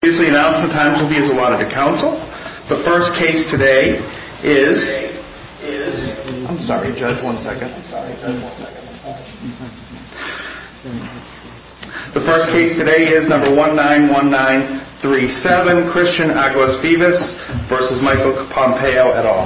The first case today is number 191937 Christian Aguasvivas v. Michael Pompeo et al.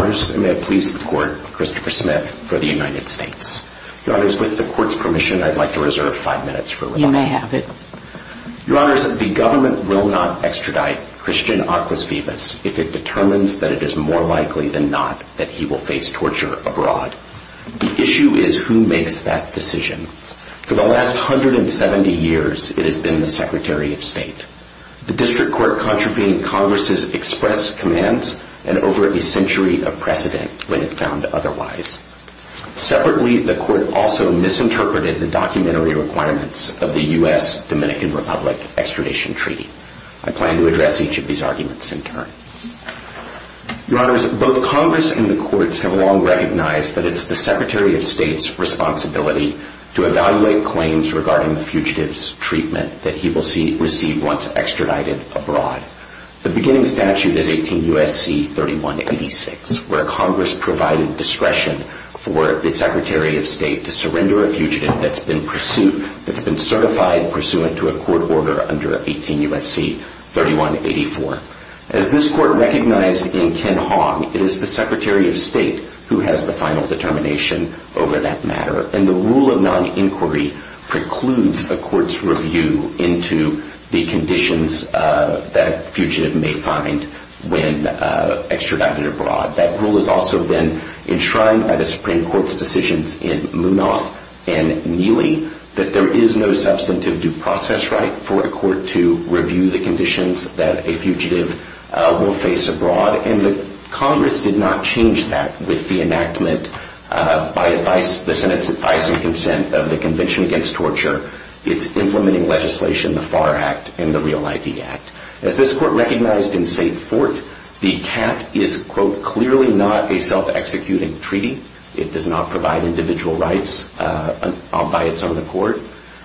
The government will not extradite Christian Aguasvivas into the United States. If it determines that it is more likely than not that he will face torture abroad. The issue is who makes that decision. For the last 170 years, it has been the Secretary of State. The district court contravened Congress's express commands and over a century of precedent when it found otherwise. Separately, the court also misinterpreted the documentary requirements of the U.S. Dominican Republic extradition treaty. I plan to address each of these arguments in turn. Your honors, both Congress and the courts have long recognized that it is the Secretary of State's responsibility to evaluate claims regarding the fugitive's treatment that he will receive once extradited abroad. The beginning statute is 18 U.S.C. 3186 where Congress provided discretion for the Secretary of State to surrender a fugitive that has been certified pursuant to a court order under 18 U.S.C. 3184. As this court recognized in Ken Hogg, it is the Secretary of State who has the final determination over that matter. And the rule of non-inquiry precludes a court's review into the conditions that a fugitive may find when extradited abroad. That rule has also been enshrined by the Supreme Court's decisions in Munoz and Neely that there is no substantive due process right for a court to review the conditions that a fugitive will face abroad. And Congress did not change that with the enactment by the Senate's advice and consent of the Convention Against Torture. It's implementing legislation, the FAR Act and the Real ID Act. As this court recognized in St. Fort, the CAT is, quote, clearly not a self-executing treaty. It does not provide individual rights by its own accord.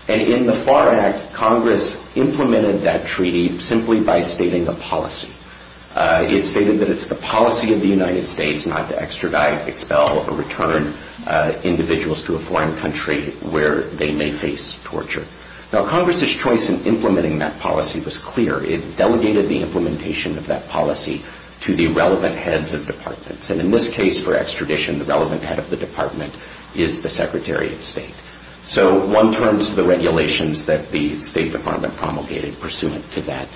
And in the FAR Act, Congress implemented that treaty simply by stating a policy. It stated that it's the policy of the United States not to extradite, expel or return individuals to a foreign country where they may face torture. Now, Congress's choice in implementing that policy was clear. It delegated the implementation of that policy to the relevant heads of departments. And in this case, for extradition, the relevant head of the department is the Secretary of State. So one turns to the regulations that the State Department promulgated pursuant to that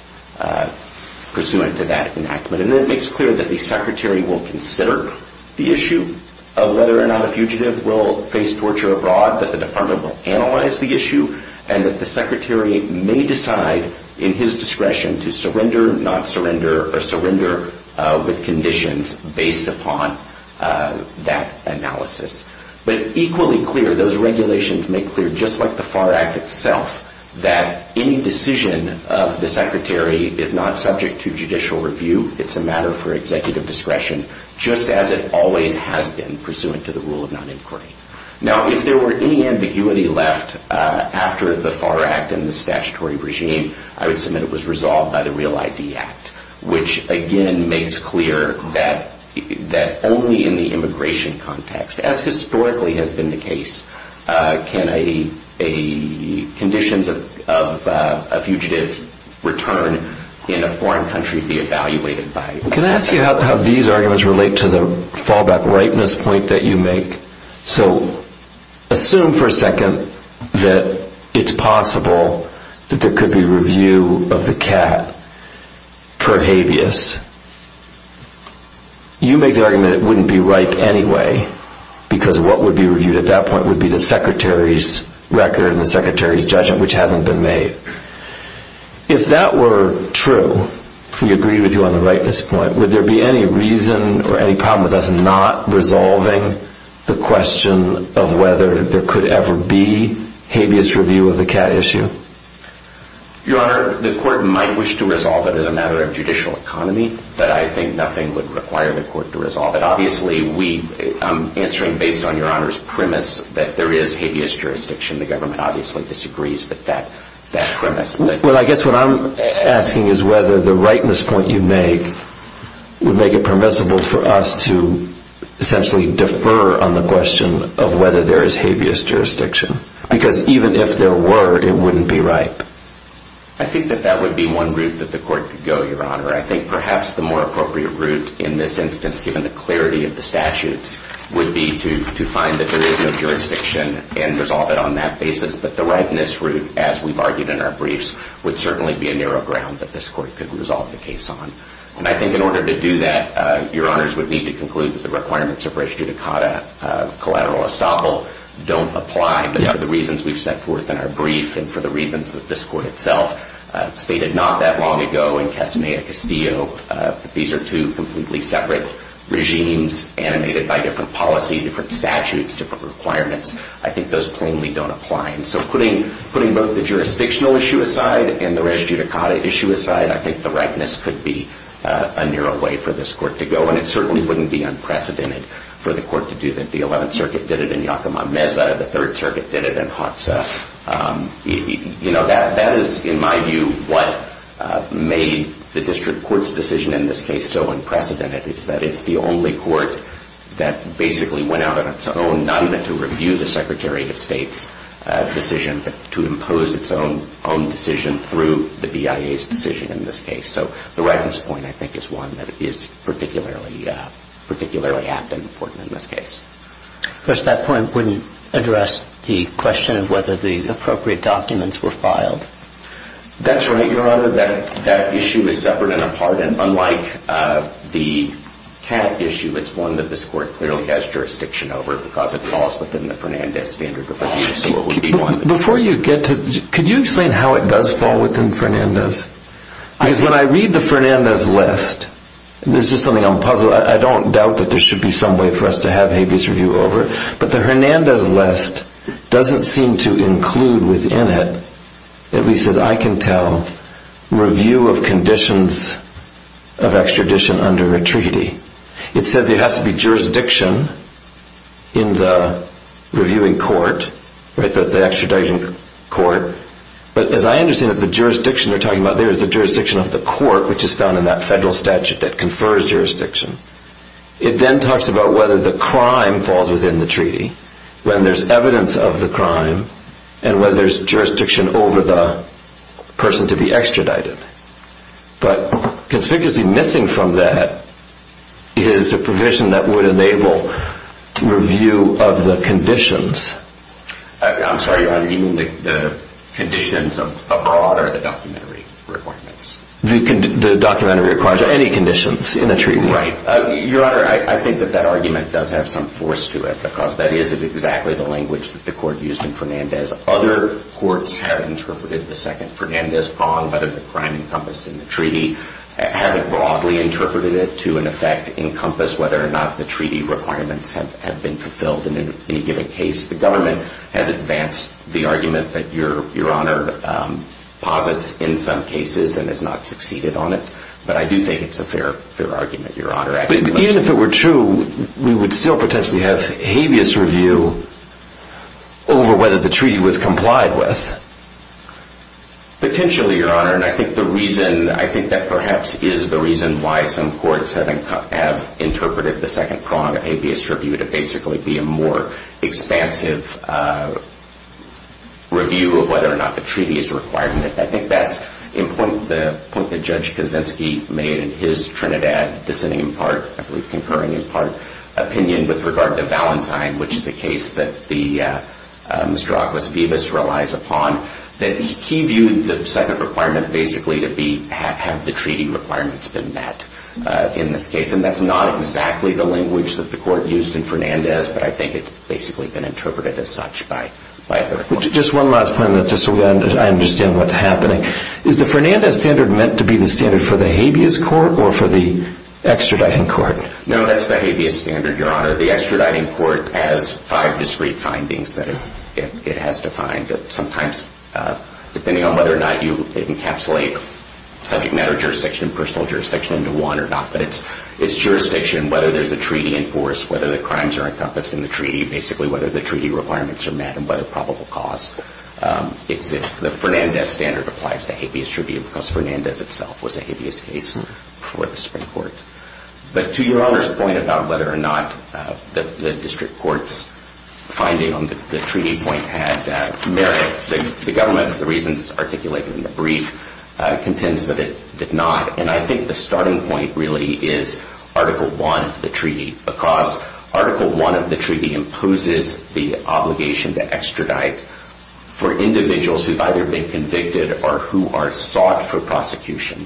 enactment. And it makes clear that the Secretary will consider the issue of whether or not a fugitive will face torture abroad, that the department will analyze the issue, and that the Secretary may decide in his discretion to surrender, not surrender, or surrender with conditions based upon that analysis. But equally clear, those regulations make clear, just like the FAR Act itself, that any decision of the Secretary is not subject to judicial review. It's a matter for executive discretion, just as it always has been pursuant to the rule of non-inquiry. Now, if there were any ambiguity left after the FAR Act and the statutory regime, I would submit it was resolved by the Real ID Act, which, again, makes clear that only in the immigration context, as historically has been the case, can conditions of a fugitive return in a foreign country be evaluated by the Act. Can I ask you how these arguments relate to the fallback ripeness point that you make? So assume for a second that it's possible that there could be review of the cat per habeas. You make the argument it wouldn't be ripe anyway, because what would be reviewed at that point would be the Secretary's record and the Secretary's judgment, which hasn't been made. If that were true, if we agree with you on the ripeness point, would there be any reason or any problem with us not resolving the question of whether there could ever be habeas review of the cat issue? Your Honor, the Court might wish to resolve it as a matter of judicial economy, but I think nothing would require the Court to resolve it. Obviously, answering based on Your Honor's premise that there is habeas jurisdiction, the government obviously disagrees with that premise. Well, I guess what I'm asking is whether the ripeness point you make would make it permissible for us to essentially defer on the question of whether there is habeas jurisdiction, because even if there were, it wouldn't be ripe. I think that that would be one route that the Court could go, Your Honor. I think perhaps the more appropriate route in this instance, given the clarity of the statutes, would be to find that there is no jurisdiction and resolve it on that basis. But the ripeness route, as we've argued in our briefs, would certainly be a narrow ground that this Court could resolve the case on. And I think in order to do that, Your Honors would need to conclude that the requirements of res judicata collateral estoppel don't apply for the reasons we've set forth in our brief and for the reasons that this Court itself stated not that long ago in Castaneda Castillo that these are two completely separate regimes animated by different policy, different statutes, different requirements. I think those plainly don't apply. And so putting both the jurisdictional issue aside and the res judicata issue aside, I think the ripeness could be a narrow way for this Court to go, and it certainly wouldn't be unprecedented for the Court to do that. The Eleventh Circuit did it in Yacama-Meza. The Third Circuit did it in Hoxha. You know, that is, in my view, what made the district court's decision in this case so unprecedented, is that it's the only court that basically went out on its own not even to review the Secretary of State's decision but to impose its own decision through the BIA's decision in this case. So the ripeness point, I think, is one that is particularly apt and important in this case. Because that point wouldn't address the question of whether the appropriate documents were filed. That's right, Your Honor. That issue is separate and apart. And unlike the CAT issue, it's one that this Court clearly has jurisdiction over because it falls within the Fernandez standard of review. Before you get to that, could you explain how it does fall within Fernandez? Because when I read the Fernandez list, and this is something I'm puzzled, I don't doubt that there should be some way for us to have habeas review over it, but the Fernandez list doesn't seem to include within it, at least as I can tell, review of conditions of extradition under a treaty. It says there has to be jurisdiction in the reviewing court, right, the extraditing court. But as I understand it, the jurisdiction they're talking about there is the jurisdiction of the court, which is found in that federal statute that confers jurisdiction. It then talks about whether the crime falls within the treaty, when there's evidence of the crime, and whether there's jurisdiction over the person to be extradited. But conspicuously missing from that is a provision that would enable review of the conditions. I'm sorry, Your Honor, do you mean the conditions abroad or the documentary requirements? The documentary requirements or any conditions in a treaty. Right. Your Honor, I think that that argument does have some force to it, because that is exactly the language that the court used in Fernandez. Other courts have interpreted the second Fernandez bond, whether the crime encompassed in the treaty, haven't broadly interpreted it to, in effect, encompass whether or not the treaty requirements have been fulfilled in any given case. The government has advanced the argument that Your Honor posits in some cases and has not succeeded on it. But I do think it's a fair argument, Your Honor. Even if it were true, we would still potentially have habeas review over whether the treaty was complied with. Potentially, Your Honor, and I think the reason, I think that perhaps is the reason why some courts have interpreted the second prong of habeas review to basically be a more expansive review of whether or not the treaty is required. I think that's important, the point that Judge Kaczynski made in his Trinidad, dissenting in part, I believe concurring in part, opinion with regard to Valentine, which is a case that Mr. Aguas-Vivas relies upon, that he viewed the second requirement basically to have the treaty requirements been met in this case. And that's not exactly the language that the court used in Fernandez, but I think it's basically been interpreted as such by other courts. Just one last point, just so I understand what's happening. Is the Fernandez standard meant to be the standard for the habeas court or for the extraditing court? No, that's the habeas standard, Your Honor. The extraditing court has five discrete findings that it has defined. Sometimes, depending on whether or not you encapsulate subject matter jurisdiction, personal jurisdiction into one or not, but it's jurisdiction, whether there's a treaty in force, whether the crimes are encompassed in the treaty, basically whether the treaty requirements are met and whether probable cause exists. The Fernandez standard applies to habeas review because Fernandez itself was a habeas case before the Supreme Court. But to Your Honor's point about whether or not the district court's finding on the treaty point had merit, the government, for the reasons articulated in the brief, contends that it did not. And I think the starting point really is Article I of the treaty because Article I of the treaty imposes the obligation to extradite for individuals who've either been convicted or who are sought for prosecution.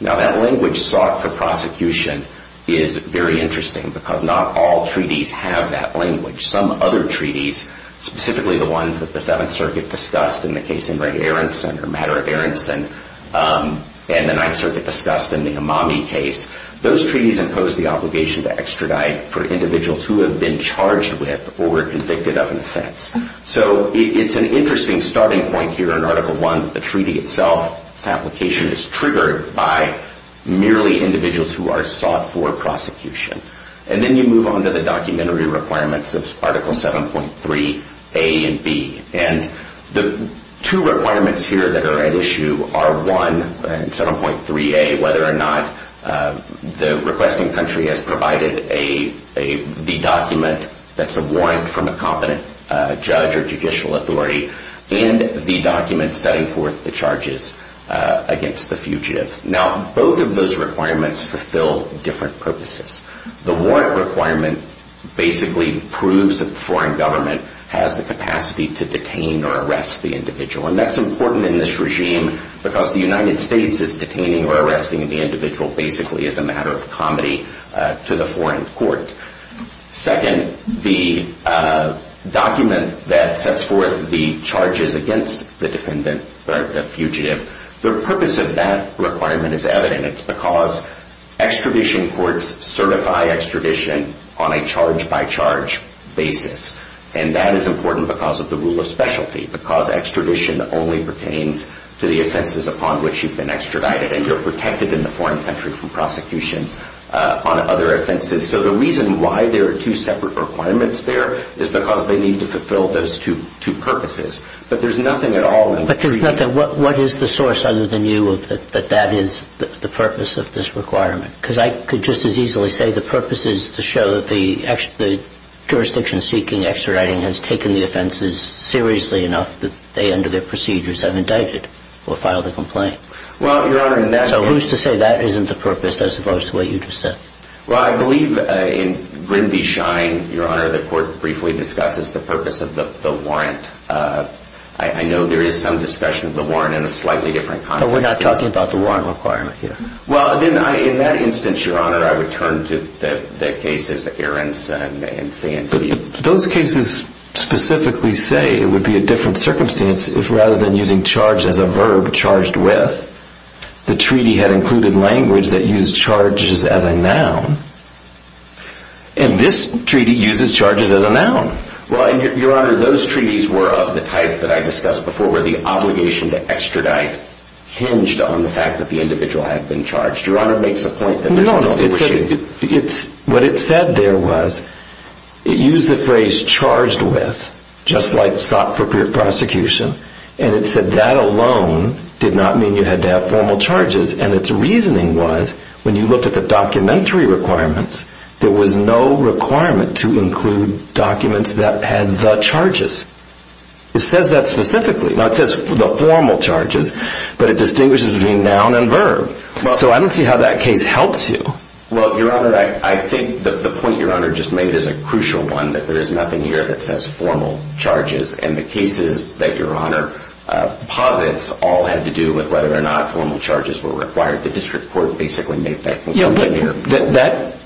Now, that language, sought for prosecution, is very interesting because not all treaties have that language. Some other treaties, specifically the ones that the Seventh Circuit discussed in the case of Ray Aronson or Madera Aronson and the Ninth Circuit discussed in the Amami case, those treaties impose the obligation to extradite for individuals who have been charged with or convicted of an offense. So it's an interesting starting point here in Article I. The treaty itself, its application is triggered by merely individuals who are sought for prosecution. And then you move on to the documentary requirements of Article 7.3a and b. And the two requirements here that are at issue are, one, 7.3a, the requesting country has provided the document that's a warrant from a competent judge or judicial authority, and the document setting forth the charges against the fugitive. Now, both of those requirements fulfill different purposes. The warrant requirement basically proves that the foreign government has the capacity to detain or arrest the individual. And that's important in this regime because the United States is detaining or arresting the individual basically as a matter of comedy to the foreign court. Second, the document that sets forth the charges against the defendant or the fugitive, the purpose of that requirement is evident. It's because extradition courts certify extradition on a charge-by-charge basis. And that is important because of the rule of specialty, because extradition only pertains to the offenses upon which you've been extradited. And you're protected in the foreign country from prosecution on other offenses. So the reason why there are two separate requirements there is because they need to fulfill those two purposes. But there's nothing at all in the treaty. But there's nothing. What is the source other than you that that is the purpose of this requirement? Because I could just as easily say the purpose is to show that the jurisdiction-seeking extraditing has taken the offenses seriously enough that they, under their procedures, have indicted or filed a complaint. So who's to say that isn't the purpose as opposed to what you just said? Well, I believe in Grindy Shine, Your Honor, the court briefly discusses the purpose of the warrant. I know there is some discussion of the warrant in a slightly different context. But we're not talking about the warrant requirement here. Well, then, in that instance, Your Honor, I would turn to the cases that Aaron's saying to you. But those cases specifically say it would be a different circumstance if rather than using charge as a verb, charged with, the treaty had included language that used charges as a noun. And this treaty uses charges as a noun. Well, Your Honor, those treaties were of the type that I discussed before, where the obligation to extradite hinged on the fact that the individual had been charged. Your Honor makes a point that there's a notion that they were shaded. No, what it said there was it used the phrase charged with, just like sought for prosecution. And it said that alone did not mean you had to have formal charges. And its reasoning was when you looked at the documentary requirements, there was no requirement to include documents that had the charges. It says that specifically. Now, it says the formal charges, but it distinguishes between noun and verb. So I don't see how that case helps you. Well, Your Honor, I think the point Your Honor just made is a crucial one, that there is nothing here that says formal charges. And the cases that Your Honor posits all had to do with whether or not formal charges were required. The district court basically made that conclusion here. Yeah, but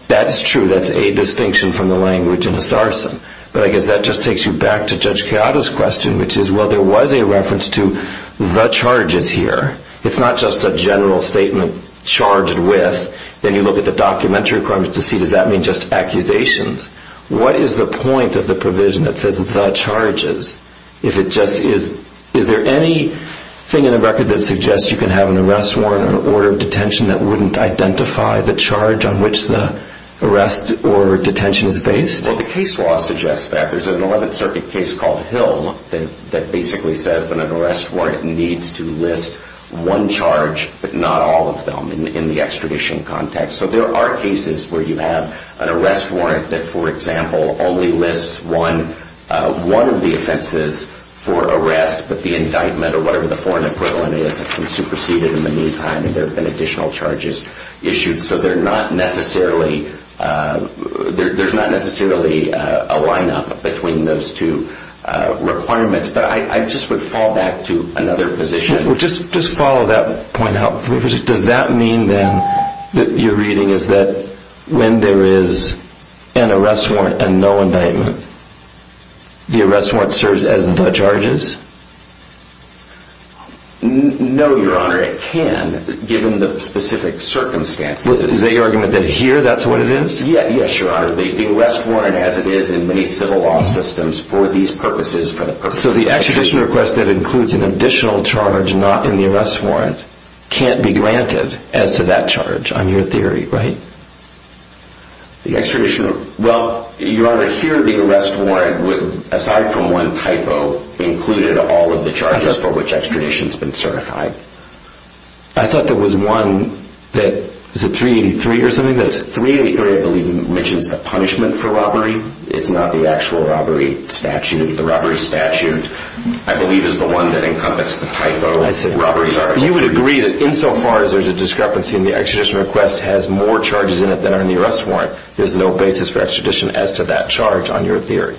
that's true. That's a distinction from the language in a sarson. But I guess that just takes you back to Judge Chiara's question, which is, well, there was a reference to the charges here. It's not just a general statement charged with. Then you look at the documentary requirements to see does that mean just accusations. What is the point of the provision that says the charges? Is there anything in the record that suggests you can have an arrest warrant or an order of detention that wouldn't identify the charge on which the arrest or detention is based? Well, the case law suggests that. There's an 11th Circuit case called Hill that basically says that an arrest warrant needs to list one charge but not all of them in the extradition context. So there are cases where you have an arrest warrant that, for example, only lists one of the offenses for arrest but the indictment or whatever the foreign equivalent is has been superseded in the meantime and there have been additional charges issued. So there's not necessarily a lineup between those two requirements. But I just would fall back to another position. Just follow that point up. Does that mean then that your reading is that when there is an arrest warrant and no indictment, the arrest warrant serves as the charges? No, Your Honor. It can, given the specific circumstances. Is that your argument that here that's what it is? Yes, Your Honor. The arrest warrant as it is in many civil law systems for these purposes. So the extradition request that includes an additional charge not in the arrest warrant can't be granted as to that charge on your theory, right? The extradition, well, Your Honor, here the arrest warrant, aside from one typo, included all of the charges for which extradition has been certified. I thought there was one that, is it 383 or something? Yes, 383 I believe mentions the punishment for robbery. It's not the actual robbery statute. The robbery statute, I believe, is the one that encompassed the typo. You would agree that insofar as there's a discrepancy in the extradition request has more charges in it than are in the arrest warrant, there's no basis for extradition as to that charge on your theory?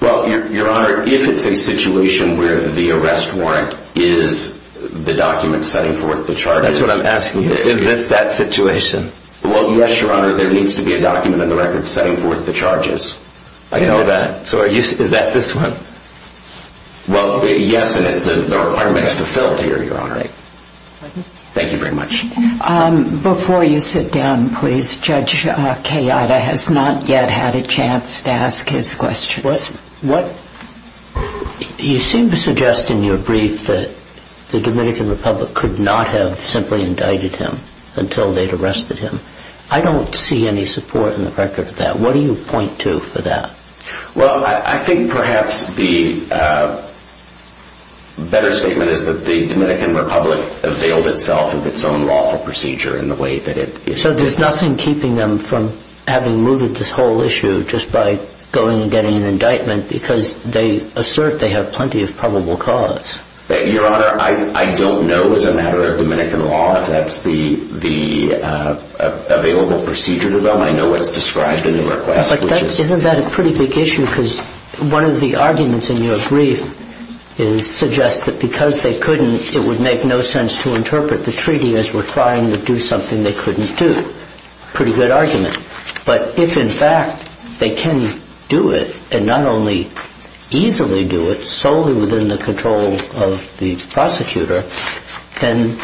Well, Your Honor, if it's a situation where the arrest warrant is the document setting forth the charges. That's what I'm asking you. Is this that situation? Well, yes, Your Honor. There needs to be a document on the record setting forth the charges. I can do that. Is that this one? Well, yes, and the requirement is fulfilled here, Your Honor. Thank you very much. Before you sit down, please, Judge Kayada has not yet had a chance to ask his questions. You seem to suggest in your brief that the Dominican Republic could not have simply indicted him until they'd arrested him. I don't see any support in the record for that. What do you point to for that? Well, I think perhaps the better statement is that the Dominican Republic availed itself of its own lawful procedure in the way that it is. So there's nothing keeping them from having moved at this whole issue just by going and getting an indictment because they assert they have plenty of probable cause? Your Honor, I don't know as a matter of Dominican law if that's the available procedure to them. I know what's described in the request. Isn't that a pretty big issue? Because one of the arguments in your brief suggests that because they couldn't, it would make no sense to interpret the treaty as we're trying to do something they couldn't do. Pretty good argument. But if, in fact, they can do it and not only easily do it solely within the control of the prosecutor, then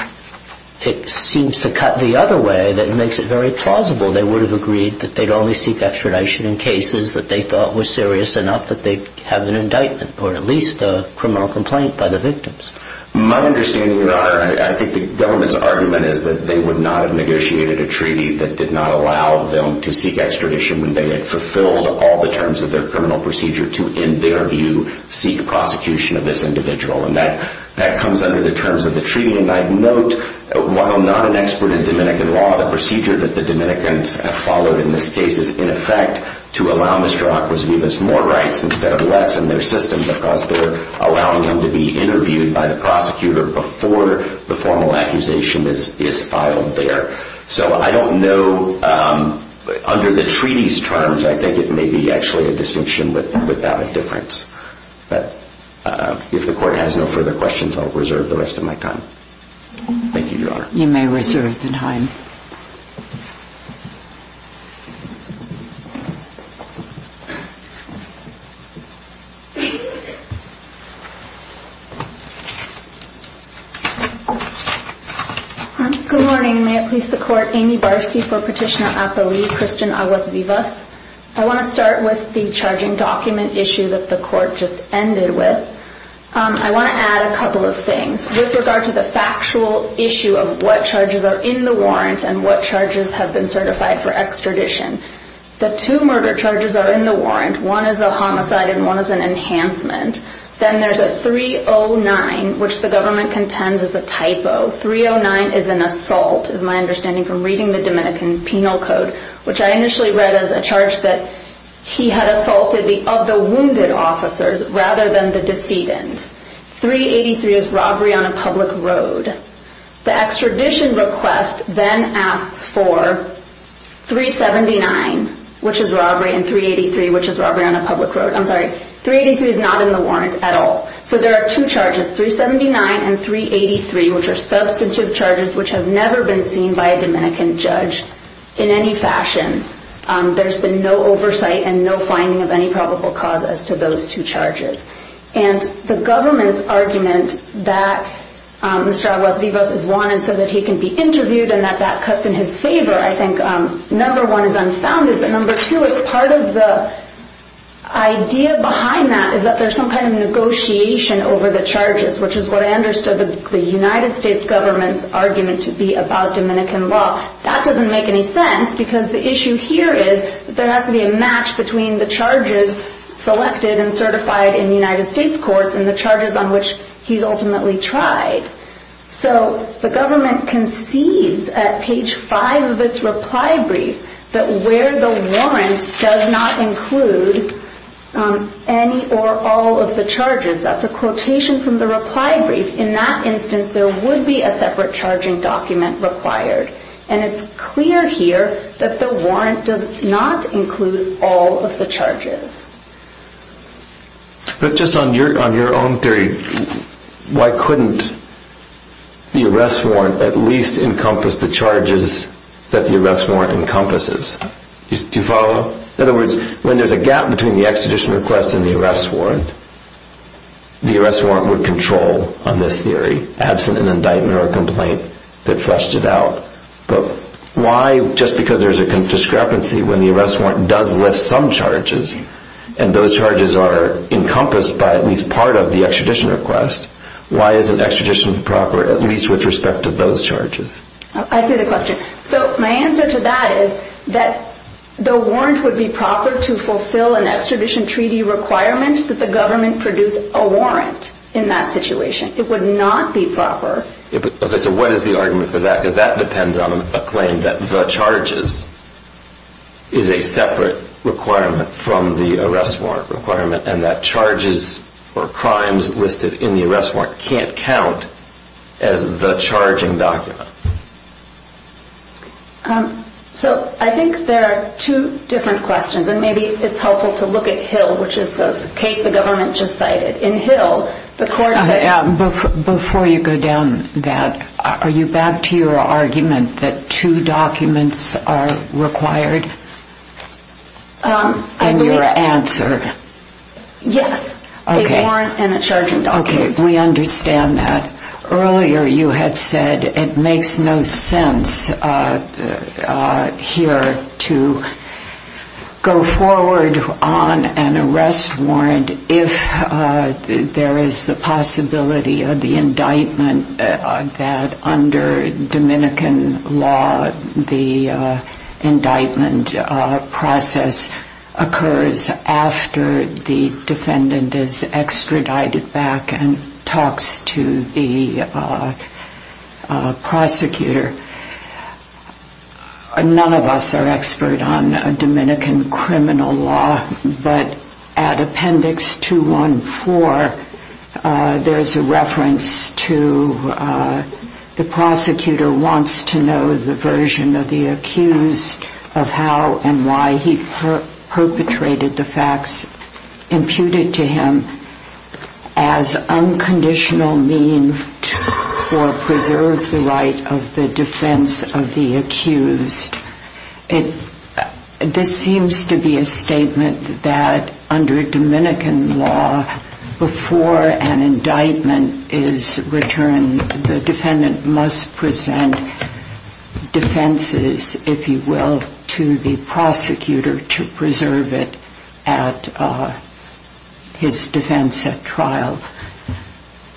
it seems to cut the other way that makes it very plausible. They would have agreed that they'd only seek extradition in cases that they thought were serious enough that they'd have an indictment or at least a criminal complaint by the victims. My understanding, Your Honor, I think the government's argument is that they would not have negotiated a treaty that did not allow them to seek extradition when they had fulfilled all the terms of their criminal procedure to, in their view, seek prosecution of this individual. And that comes under the terms of the treaty. And I'd note, while I'm not an expert in Dominican law, the procedure that the Dominicans have followed in this case is, in effect, to allow Mr. Acquas Vivas more rights instead of less in their system because they're allowing him to be interviewed by the prosecutor before the formal accusation is filed there. So I don't know. Under the treaty's terms, I think it may be actually a distinction without a difference. But if the Court has no further questions, I'll reserve the rest of my time. Thank you, Your Honor. You may reserve the time. Good morning. May it please the Court, Amy Barsky for Petitioner at the League, Kristen Acquas Vivas. I want to start with the charging document issue that the Court just ended with. I want to add a couple of things. With regard to the factual issue of what charges are in the warrant and what charges have been certified for extradition, the two murder charges are in the warrant. One is a homicide and one is an enhancement. Then there's a 309, which the government contends is a typo. 309 is an assault, is my understanding from reading the Dominican penal code, which I initially read as a charge that he had assaulted the wounded officers rather than the decedent. 383 is robbery on a public road. The extradition request then asks for 379, which is robbery, and 383, which is robbery on a public road. I'm sorry, 383 is not in the warrant at all. So there are two charges, 379 and 383, which are substantive charges which have never been seen by a Dominican judge in any fashion. There's been no oversight and no finding of any probable cause as to those two charges. The government's argument that Mr. Acquas Vivas is wanted so that he can be interviewed and that that cuts in his favor, I think, number one, is unfounded, but number two is part of the idea behind that is that there's some kind of negotiation over the charges, which is what I understood the United States government's argument to be about Dominican law. That doesn't make any sense because the issue here is that there has to be a match between the charges selected and certified in the United States courts and the charges on which he's ultimately tried. So the government concedes at page five of its reply brief that where the warrant does not include any or all of the charges. That's a quotation from the reply brief. In that instance, there would be a separate charging document required, and it's clear here that the warrant does not include all of the charges. But just on your own theory, why couldn't the arrest warrant at least encompass the charges that the arrest warrant encompasses? Do you follow? In other words, when there's a gap between the extradition request and the arrest warrant, the arrest warrant would control on this theory, absent an indictment or a complaint that flushed it out. But why, just because there's a discrepancy when the arrest warrant does list some charges and those charges are encompassed by at least part of the extradition request, why isn't extradition proper at least with respect to those charges? I see the question. So my answer to that is that the warrant would be proper to fulfill an extradition treaty requirement that the government produce a warrant in that situation. It would not be proper. Okay, so what is the argument for that? Because that depends on a claim that the charges is a separate requirement from the arrest warrant requirement and that charges or crimes listed in the arrest warrant can't count as the charging document. So I think there are two different questions. And maybe it's helpful to look at Hill, which is the case the government just cited. In Hill, the court said... Before you go down that, are you back to your argument that two documents are required? And your answer? Yes, a warrant and a charging document. Okay, we understand that. Earlier you had said it makes no sense here to go forward on an arrest warrant if there is the possibility of the indictment that under Dominican law, the indictment process occurs after the defendant is extradited back and talks to the prosecutor. None of us are expert on Dominican criminal law, but at appendix 214, there's a reference to the prosecutor wants to know the version of the accused of how and why he perpetrated the facts imputed to him as unconditional mean to preserve the right of the defense of the accused. This seems to be a statement that under Dominican law, before an indictment is returned, the defendant must present defenses, if you will, to the prosecutor to preserve it at his defense at trial.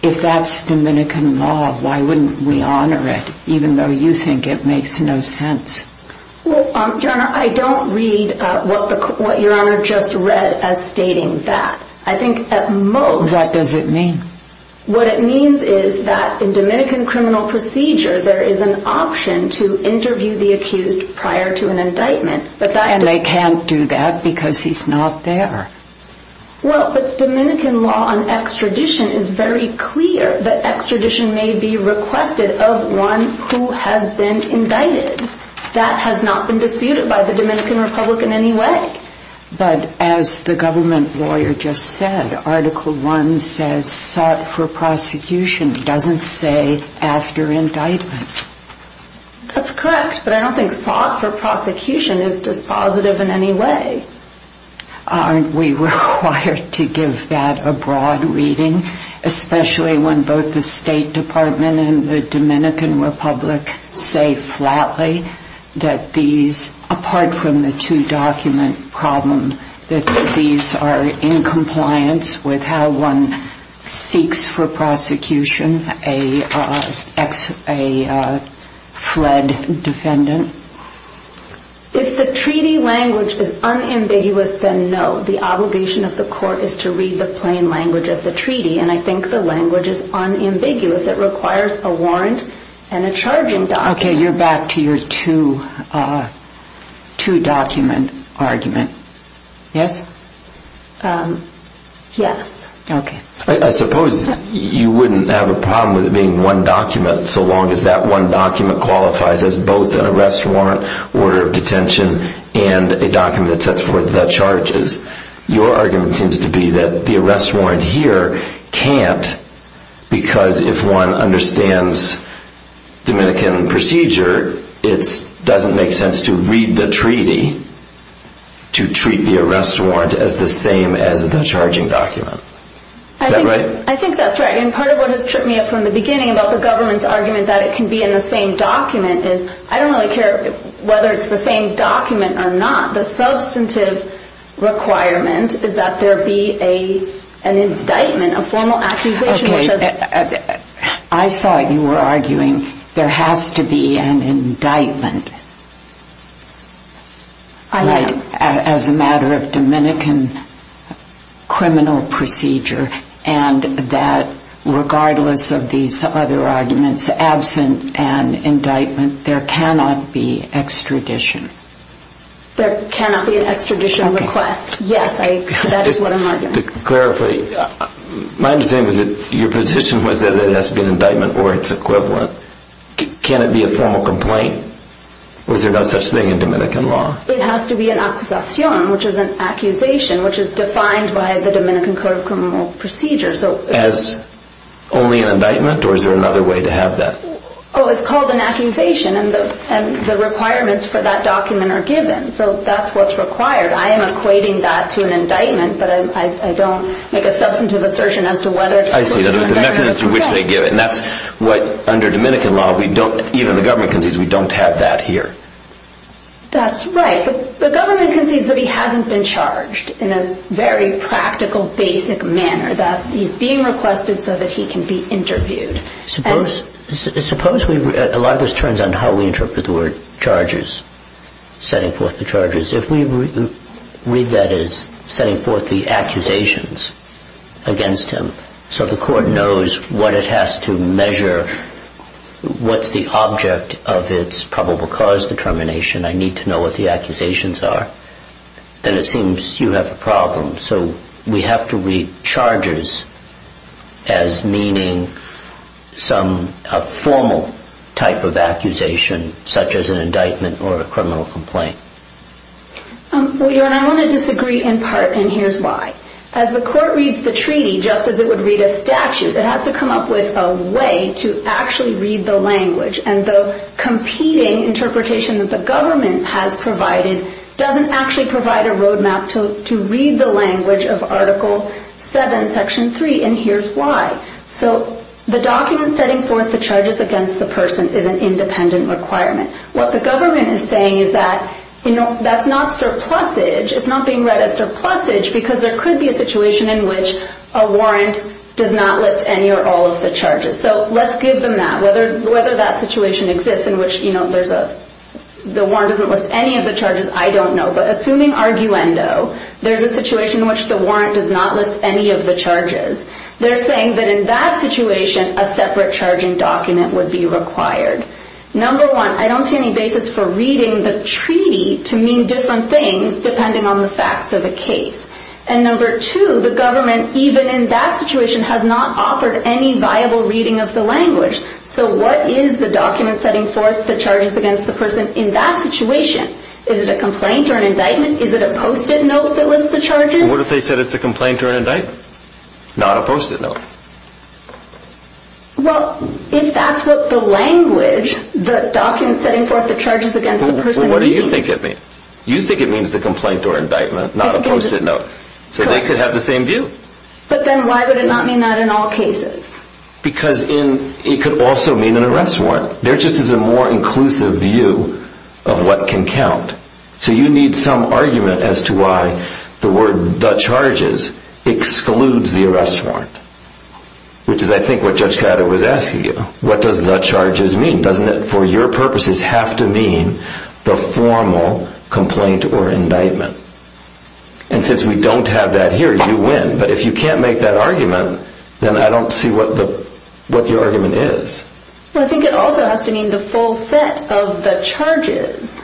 If that's Dominican law, why wouldn't we honor it even though you think it makes no sense? Well, Your Honor, I don't read what Your Honor just read as stating that. I think at most... What does it mean? What it means is that in Dominican criminal procedure, there is an option to interview the accused prior to an indictment, but that... And they can't do that because he's not there. Well, but Dominican law on extradition is very clear that extradition may be requested of one who has been indicted. That has not been disputed by the Dominican Republic in any way. But as the government lawyer just said, Article I says, sought for prosecution doesn't say after indictment. That's correct, but I don't think sought for prosecution is dispositive in any way. Aren't we required to give that a broad reading, especially when both the State Department and the Dominican Republic say flatly that these, apart from the two-document problem, that these are in compliance with how one seeks for prosecution a fled defendant? If the treaty language is unambiguous, then no. The obligation of the court is to read the plain language of the treaty, and I think the language is unambiguous. It requires a warrant and a charging document. Okay, you're back to your two-document argument. Yes? Yes. Okay. I suppose you wouldn't have a problem with it being one document so long as that one document qualifies as both an arrest warrant, order of detention, and a document that sets forth the charges. Your argument seems to be that the arrest warrant here can't because if one understands Dominican procedure, it doesn't make sense to read the treaty to treat the arrest warrant as the same as the charging document. Is that right? I think that's right, and part of what has tripped me up from the beginning about the government's argument that it can be in the same document is I don't really care whether it's the same document or not. The substantive requirement is that there be an indictment, a formal accusation. Okay. I thought you were arguing there has to be an indictment. I am. As a matter of Dominican criminal procedure and that regardless of these other arguments, absent an indictment, there cannot be extradition. There cannot be an extradition request. Okay. Yes, that is what I'm arguing. Just to clarify, my understanding was that your position was that it has to be an indictment or its equivalent. Can it be a formal complaint? Was there no such thing in Dominican law? It has to be an accusacion, which is an accusation, which is defined by the Dominican Code of Criminal Procedure. As only an indictment, or is there another way to have that? Oh, it's called an accusation, and the requirements for that document are given. So that's what's required. I am equating that to an indictment, but I don't make a substantive assertion as to whether it's supposed to be an indictment or not. I see. There's a mechanism in which they give it, and that's what under Dominican law we don't, even the government concedes, we don't have that here. That's right. The government concedes that he hasn't been charged in a very practical, basic manner, that he's being requested so that he can be interviewed. Suppose we, a lot of this turns on how we interpret the word charges, setting forth the charges. If we read that as setting forth the accusations against him so the court knows what it has to measure, what's the object of its probable cause determination, I need to know what the accusations are, then it seems you have a problem. So we have to read charges as meaning some formal type of accusation, such as an indictment or a criminal complaint. Well, Your Honor, I want to disagree in part, and here's why. As the court reads the treaty, just as it would read a statute, it has to come up with a way to actually read the language, and the competing interpretation that the government has provided doesn't actually provide a roadmap to read the language of Article 7, Section 3, and here's why. So the document setting forth the charges against the person is an independent requirement. What the government is saying is that that's not surplusage, it's not being read as surplusage because there could be a situation in which a warrant does not list any or all of the charges. So let's give them that. Whether that situation exists in which the warrant doesn't list any of the charges, I don't know, but assuming arguendo, there's a situation in which the warrant does not list any of the charges, they're saying that in that situation a separate charging document would be required. Number one, I don't see any basis for reading the treaty to mean different things depending on the facts of the case. And number two, the government, even in that situation, has not offered any viable reading of the language. So what is the document setting forth the charges against the person in that situation? Is it a complaint or an indictment? Is it a post-it note that lists the charges? What if they said it's a complaint or an indictment? Not a post-it note. Well, if that's what the language, the document setting forth the charges against the person means. What do you think it means? You think it means the complaint or indictment, not a post-it note. So they could have the same view. But then why would it not mean that in all cases? Because it could also mean an arrest warrant. There just is a more inclusive view of what can count. So you need some argument as to why the word the charges excludes the arrest warrant, which is, I think, what Judge Caddo was asking you. What does the charges mean? Doesn't it, for your purposes, have to mean the formal complaint or indictment? And since we don't have that here, you win. But if you can't make that argument, then I don't see what your argument is. Well, I think it also has to mean the full set of the charges,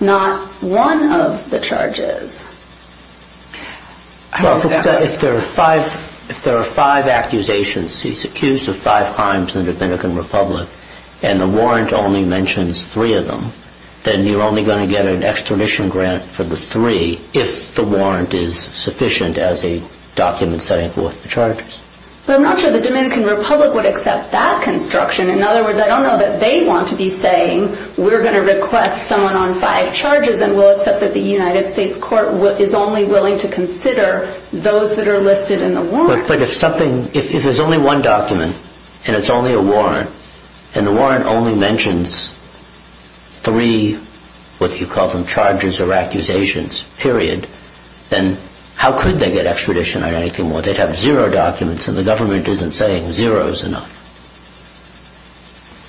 not one of the charges. Well, if there are five accusations, he's accused of five crimes in the Dominican Republic, and the warrant only mentions three of them, then you're only going to get an extradition grant for the three if the warrant is sufficient as a document setting forth the charges. But I'm not sure the Dominican Republic would accept that construction. In other words, I don't know that they want to be saying, we're going to request someone on five charges and we'll accept that the United States court is only willing to consider those that are listed in the warrant. But if there's only one document and it's only a warrant, and the warrant only mentions three, what you call them, charges or accusations, period, then how could they get extradition or anything more? They'd have zero documents, and the government isn't saying zero is enough.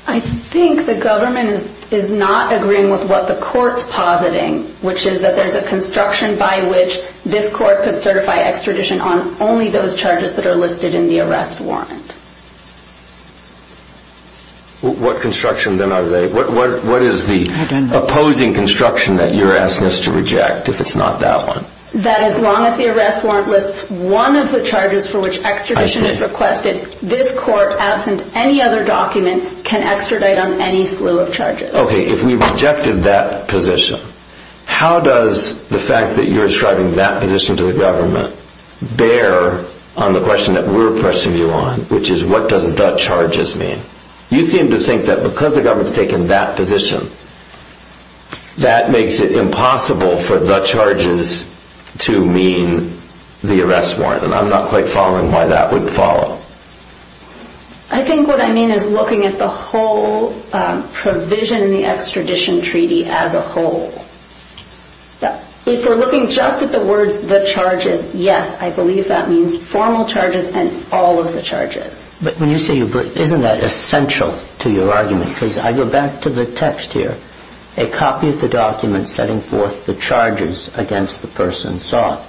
I think the government is not agreeing with what the court's positing, which is that there's a construction by which this court could certify extradition on only those charges that are listed in the arrest warrant. What construction, then, are they? What is the opposing construction that you're asking us to reject if it's not that one? That as long as the arrest warrant lists one of the charges for which extradition is requested, this court, absent any other document, can extradite on any slew of charges. Okay, if we rejected that position, how does the fact that you're ascribing that position to the government bear on the question that we're pressing you on, which is what does the charges mean? You seem to think that because the government's taking that position, that makes it impossible for the charges to mean the arrest warrant, and I'm not quite following why that would follow. I think what I mean is looking at the whole provision in the extradition treaty as a whole. If we're looking just at the words, the charges, yes, I believe that means formal charges and all of the charges. But isn't that essential to your argument? Because I go back to the text here, a copy of the document setting forth the charges against the person sought.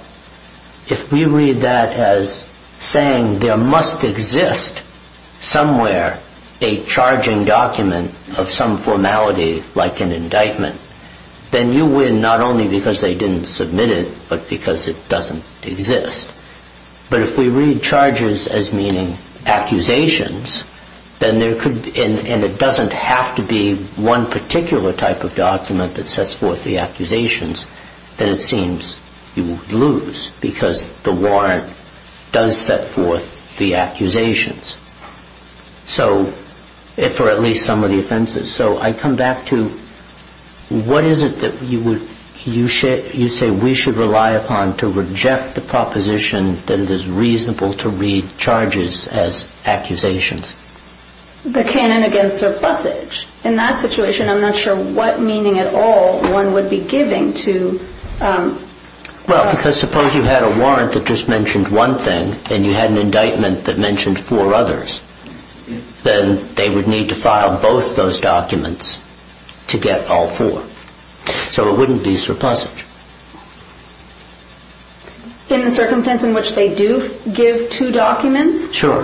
If we read that as saying there must exist somewhere a charging document of some formality like an indictment, then you win not only because they didn't submit it, but because it doesn't exist. But if we read charges as meaning accusations, and it doesn't have to be one particular type of document that sets forth the accusations, then it seems you would lose because the warrant does set forth the accusations, for at least some of the offenses. So I come back to what is it that you say we should rely upon to reject the proposition that it is reasonable to read charges as accusations? The canon against surplusage. In that situation, I'm not sure what meaning at all one would be giving to... Well, because suppose you had a warrant that just mentioned one thing and you had an indictment that mentioned four others. Then they would need to file both those documents to get all four. So it wouldn't be surplusage. In the circumstance in which they do give two documents? Sure.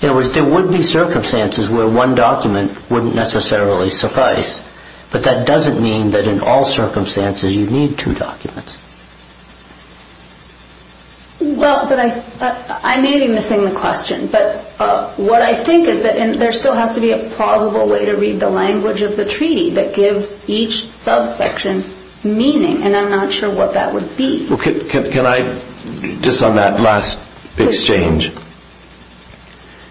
In other words, there would be circumstances where one document wouldn't necessarily suffice, but that doesn't mean that in all circumstances you'd need two documents. Well, I may be missing the question, but what I think is that there still has to be a plausible way to read the language of the treaty that gives each subsection meaning, and I'm not sure what that would be. Can I, just on that last exchange,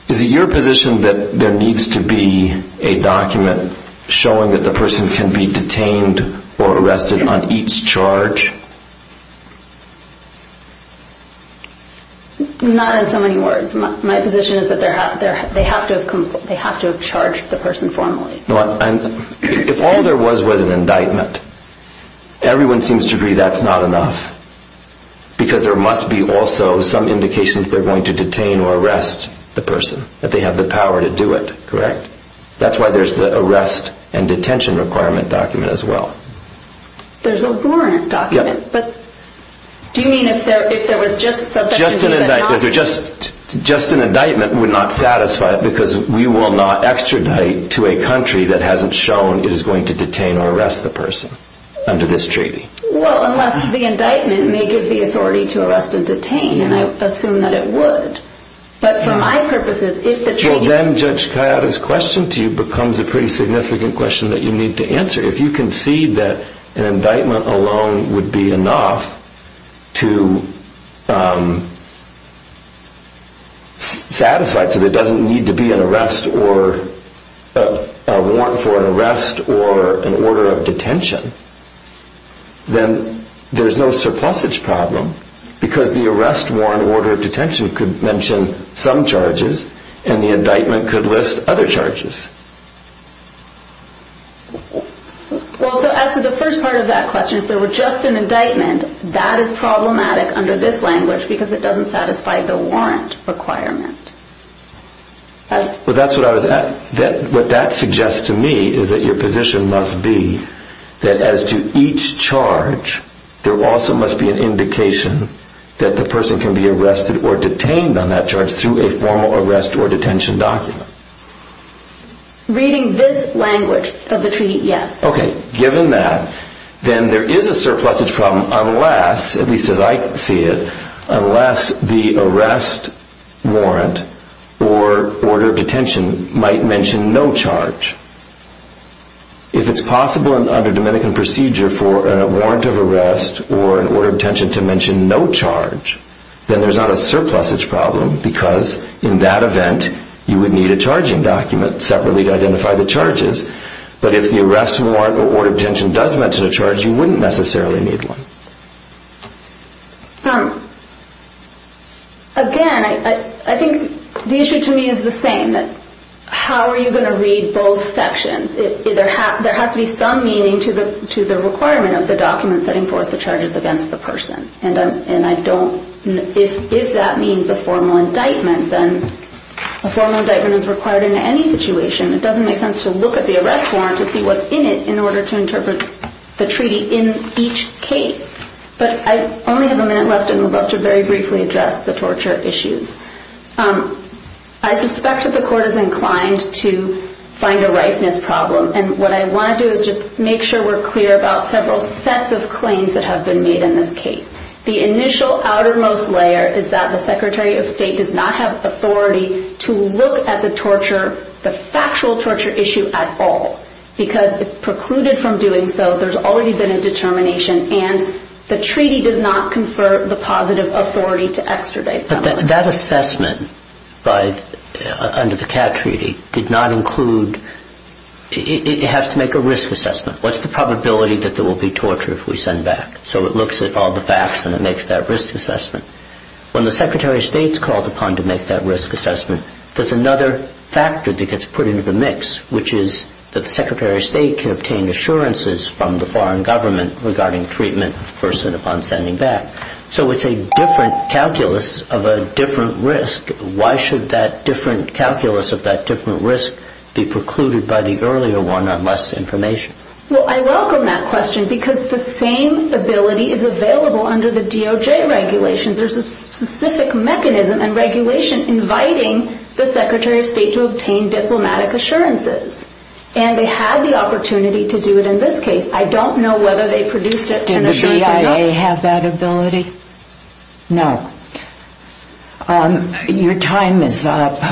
is it your position that there needs to be a document showing that the person can be detained or arrested on each charge? Not in so many words. My position is that they have to have charged the person formally. If all there was was an indictment, everyone seems to agree that's not enough because there must be also some indication that they're going to detain or arrest the person, that they have the power to do it, correct? That's why there's the arrest and detention requirement document as well. There's a warrant document, but do you mean if there was just such a thing? Just an indictment would not satisfy it because we will not extradite to a country that hasn't shown it is going to detain or arrest the person under this treaty. Well, unless the indictment may give the authority to arrest and detain, and I assume that it would. But for my purposes, if the treaty... Well, then Judge Kayada's question to you becomes a pretty significant question that you need to answer. If you concede that an indictment alone would be enough to satisfy it so there doesn't need to be an arrest or a warrant for an arrest or an order of detention, then there's no surplusage problem because the arrest, warrant, order of detention could mention some charges and the indictment could list other charges. Well, so as to the first part of that question, if there were just an indictment, that is problematic under this language because it doesn't satisfy the warrant requirement. Well, that's what I was... What that suggests to me is that your position must be that as to each charge, there also must be an indication that the person can be arrested or detained on that charge through a formal arrest or detention document. Reading this language of the treaty, yes. Okay, given that, then there is a surplusage problem unless, at least as I see it, unless the arrest, warrant, or order of detention might mention no charge. If it's possible under Dominican procedure for a warrant of arrest or an order of detention to mention no charge, then there's not a surplusage problem because in that event, you would need a charging document separately to identify the charges. But if the arrest, warrant, or order of detention does mention a charge, you wouldn't necessarily need one. Again, I think the issue to me is the same. How are you going to read both sections? There has to be some meaning to the requirement of the document setting forth the charges against the person. If that means a formal indictment, then a formal indictment is required in any situation. It doesn't make sense to look at the arrest warrant to see what's in it in order to interpret the treaty in each case. But I only have a minute left, and I'm about to very briefly address the torture issues. I suspect that the court is inclined to find a ripeness problem, and what I want to do is just make sure we're clear about several sets of claims that have been made in this case. The initial outermost layer is that the Secretary of State does not have authority to look at the torture, the factual torture issue at all, because it's precluded from doing so. There's already been a determination, and the treaty does not confer the positive authority to extradite someone. But that assessment under the CAT treaty did not include... It has to make a risk assessment. What's the probability that there will be torture if we send back? So it looks at all the facts and it makes that risk assessment. When the Secretary of State is called upon to make that risk assessment, there's another factor that gets put into the mix, which is that the Secretary of State can obtain assurances from the foreign government regarding treatment of the person upon sending back. So it's a different calculus of a different risk. Why should that different calculus of that different risk be precluded by the earlier one on less information? Well, I welcome that question, because the same ability is available under the DOJ regulations. There's a specific mechanism and regulation inviting the Secretary of State to obtain diplomatic assurances. And they had the opportunity to do it in this case. I don't know whether they produced it... Did the BIA have that ability? No. Your time is up.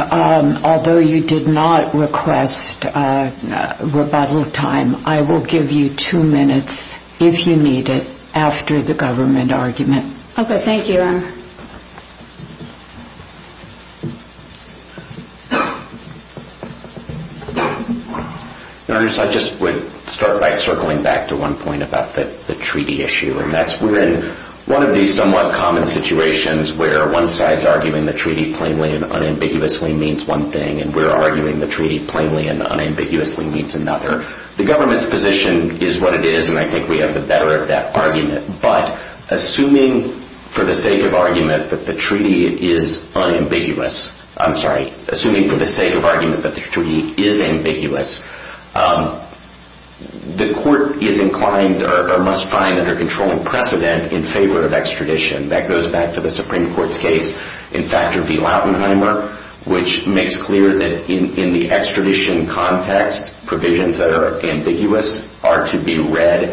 Although you did not request rebuttal time, I will give you two minutes, if you need it, after the government argument. Okay, thank you. I just would start by circling back to one point about the treaty issue. We're in one of these somewhat common situations where one side is arguing the treaty plainly and unambiguously means one thing, and we're arguing the treaty plainly and unambiguously means another. The government's position is what it is, and I think we have the better of that argument. But assuming for the sake of argument that the treaty is unambiguous... I'm sorry. Assuming for the sake of argument that the treaty is ambiguous, the court is inclined or must find under controlling precedent in favor of extradition. That goes back to the Supreme Court's case in Factor v. Lautenheimer, which makes clear that in the extradition context, provisions that are ambiguous are to be read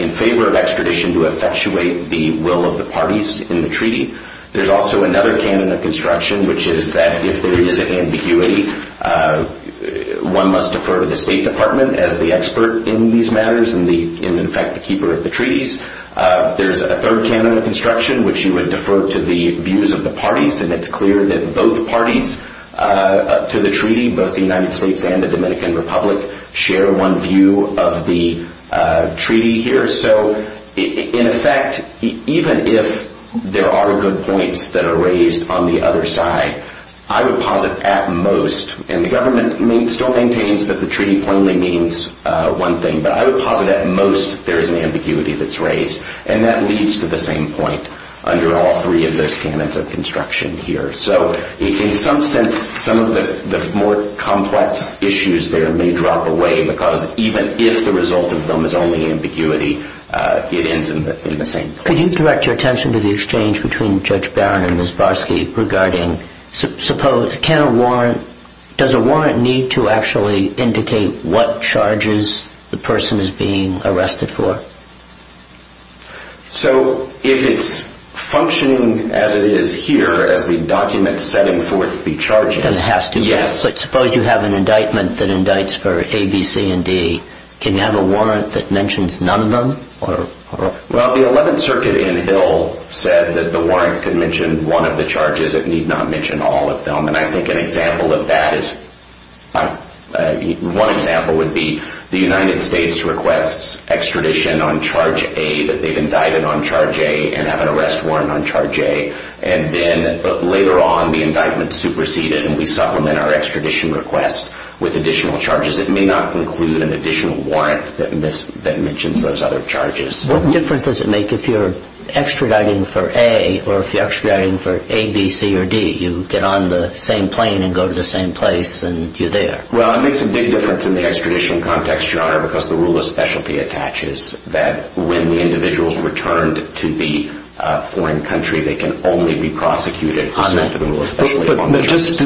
in favor of extradition to effectuate the will of the parties in the treaty. There's also another canon of construction, which is that if there is an ambiguity, one must defer to the State Department as the expert in these matters and, in fact, the keeper of the treaties. There's a third canon of construction, which you would defer to the views of the parties, and it's clear that both parties to the treaty, both the United States and the Dominican Republic, share one view of the treaty here. So, in effect, even if there are good points that are raised on the other side, I would posit at most, and the government still maintains that the treaty plainly means one thing, but I would posit at most there is an ambiguity that's raised, and that leads to the same point under all three of those canons of construction here. So, in some sense, some of the more complex issues there may drop away because even if the result of them is only ambiguity, it ends in the same place. Could you direct your attention to the exchange between Judge Barron and Ms. Barsky regarding does a warrant need to actually indicate what charges the person is being arrested for? So, if it's functioning as it is here, as the document setting forth the charges... Then it has to be. Yes. But suppose you have an indictment that indicts for A, B, C, and D. Can you have a warrant that mentions none of them? Well, the Eleventh Circuit in Hill said that the warrant could mention one of the charges. It need not mention all of them, and I think an example of that is one example would be the United States requests extradition on charge A that they've indicted on charge A and have an arrest warrant on charge A, and then later on the indictment is superseded and we supplement our extradition request with additional charges. It may not include an additional warrant that mentions those other charges. What difference does it make if you're extraditing for A or if you're extraditing for A, B, C, or D? You get on the same plane and go to the same place and you're there. Well, it makes a big difference in the extradition context, Your Honor, because the rule of specialty attaches that when the individuals returned to the foreign country they can only be prosecuted for subject to the rule of specialty on charges.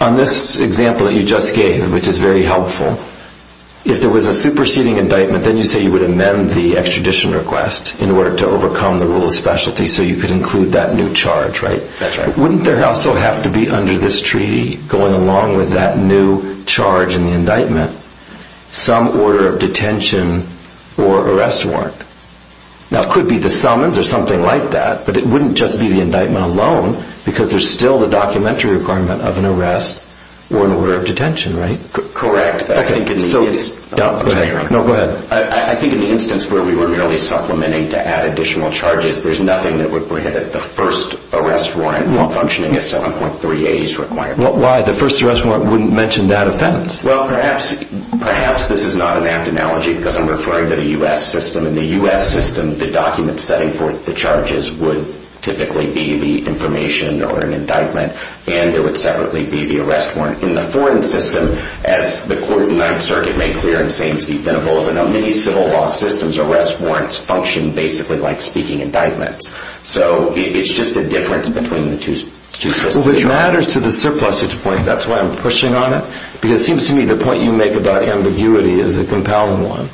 On this example that you just gave, which is very helpful, if there was a superseding indictment, then you say you would amend the extradition request in order to overcome the rule of specialty so you could include that new charge, right? That's right. Wouldn't there also have to be under this treaty, going along with that new charge in the indictment, some order of detention or arrest warrant? Now, it could be the summons or something like that, but it wouldn't just be the indictment alone because there's still the documentary requirement of an arrest or an order of detention, right? Correct, but I think in the instance... No, go ahead. I think in the instance where we were merely supplementing to add additional charges, there's nothing that would prohibit the first arrest warrant from functioning as 7.3a is required. Why? The first arrest warrant wouldn't mention that offense. Well, perhaps this is not an apt analogy because I'm referring to the U.S. system. In the U.S. system, the documents setting forth the charges would typically be the information or an indictment, and there would separately be the arrest warrant. In the foreign system, as the Court of the Ninth Circuit made clear in Sames v. Venables, I know many civil law systems, arrest warrants function basically like speaking indictments. So it's just a difference between the two systems. Well, it matters to the surplusage point. That's why I'm pushing on it because it seems to me the point you make about ambiguity is a compelling one.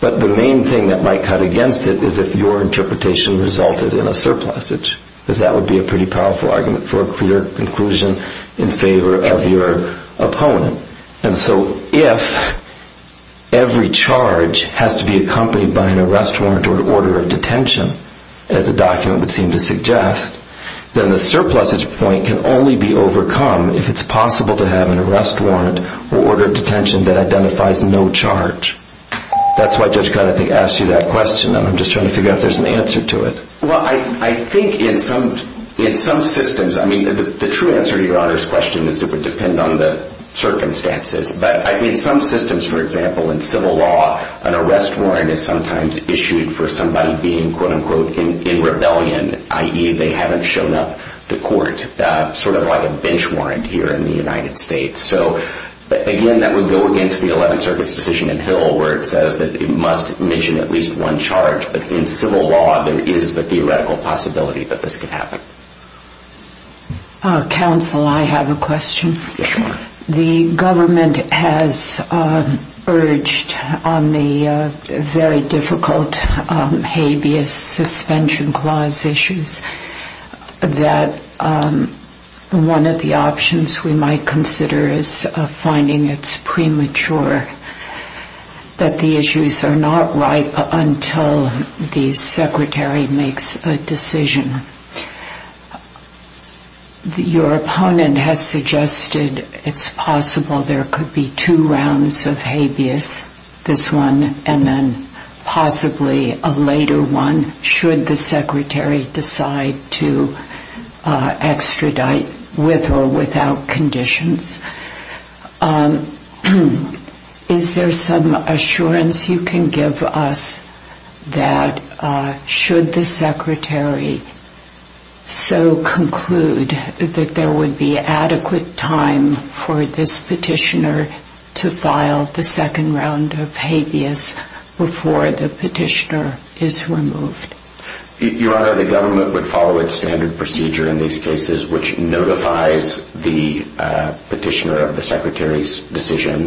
But the main thing that might cut against it is if your interpretation resulted in a surplusage because that would be a pretty powerful argument for a clear conclusion in favor of your opponent. And so if every charge has to be accompanied by an arrest warrant or an order of detention, as the document would seem to suggest, then the surplusage point can only be overcome if it's possible to have an arrest warrant or order of detention that identifies no charge. That's why Judge Conopy asked you that question, and I'm just trying to figure out if there's an answer to it. Well, I think in some systems, I mean, the true answer to Your Honor's question is it would depend on the circumstances. But I mean, some systems, for example, in civil law, an arrest warrant is sometimes issued for somebody being, quote-unquote, in rebellion, i.e., they haven't shown up to court, sort of like a bench warrant here in the United States. So, again, that would go against the Eleventh Circuit's decision in Hill where it says that it must mention at least one charge. But in civil law, there is the theoretical possibility that this could happen. Counsel, I have a question. Yes, Your Honor. The government has urged on the very difficult habeas suspension clause issues that one of the options we might consider is finding it premature that the issues are not ripe until the secretary makes a decision. Your opponent has suggested it's possible there could be two rounds of habeas, this one and then possibly a later one, should the secretary decide to extradite with or without conditions. Is there some assurance you can give us that should the secretary so conclude that there would be adequate time for this petitioner to file the second round of habeas before the petitioner is removed? Your Honor, the government would follow its standard procedure in these cases which notifies the petitioner of the secretary's decision.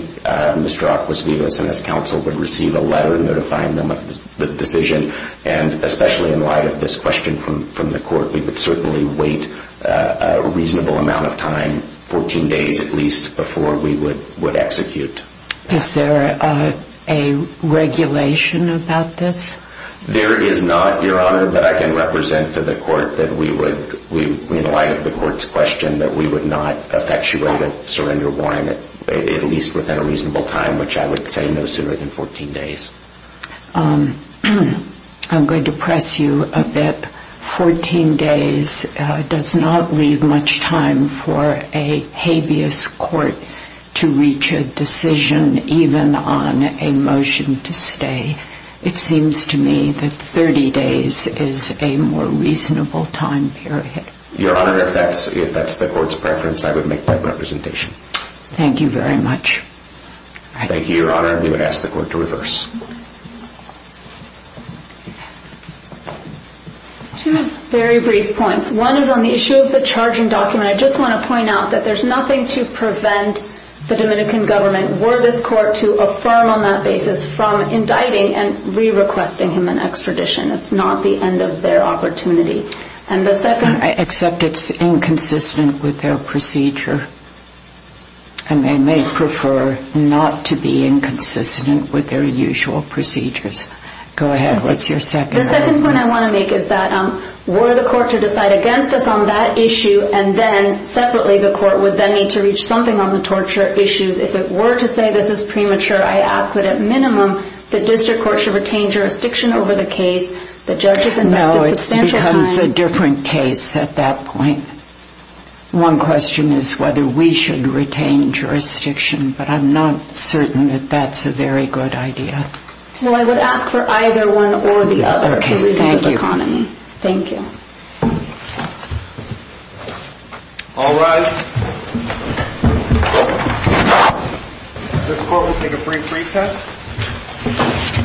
Mr. Acquas Vivas and his counsel would receive a letter notifying them of the decision. And especially in light of this question from the court, we would certainly wait a reasonable amount of time, 14 days at least, before we would execute. Is there a regulation about this? There is not, Your Honor, that I can represent to the court that we would, in light of the court's question, that we would not effectuate a surrender warrant at least within a reasonable time, which I would say no sooner than 14 days. I'm going to press you a bit. Fourteen days does not leave much time for a habeas court to reach a decision, even on a motion to stay. It seems to me that 30 days is a more reasonable time period. Your Honor, if that's the court's preference, I would make that representation. Thank you very much. Thank you, Your Honor. We would ask the court to reverse. Two very brief points. One is on the issue of the charging document. I just want to point out that there's nothing to prevent the Dominican government, were this court to affirm on that basis from indicting and re-requesting him an extradition. It's not the end of their opportunity. Except it's inconsistent with their procedure, and they may prefer not to be inconsistent with their usual procedures. Go ahead. What's your second point? The second point I want to make is that were the court to decide against us on that issue and then separately the court would then need to reach something on the torture issues if it were to say this is premature, I ask that at minimum the district court should retain jurisdiction over the case. The judge has invested substantial time. No, it becomes a different case at that point. One question is whether we should retain jurisdiction, but I'm not certain that that's a very good idea. Well, I would ask for either one or the other for reasons of economy. Okay, thank you. Thank you. All rise. The court will take a brief recess. Thank you.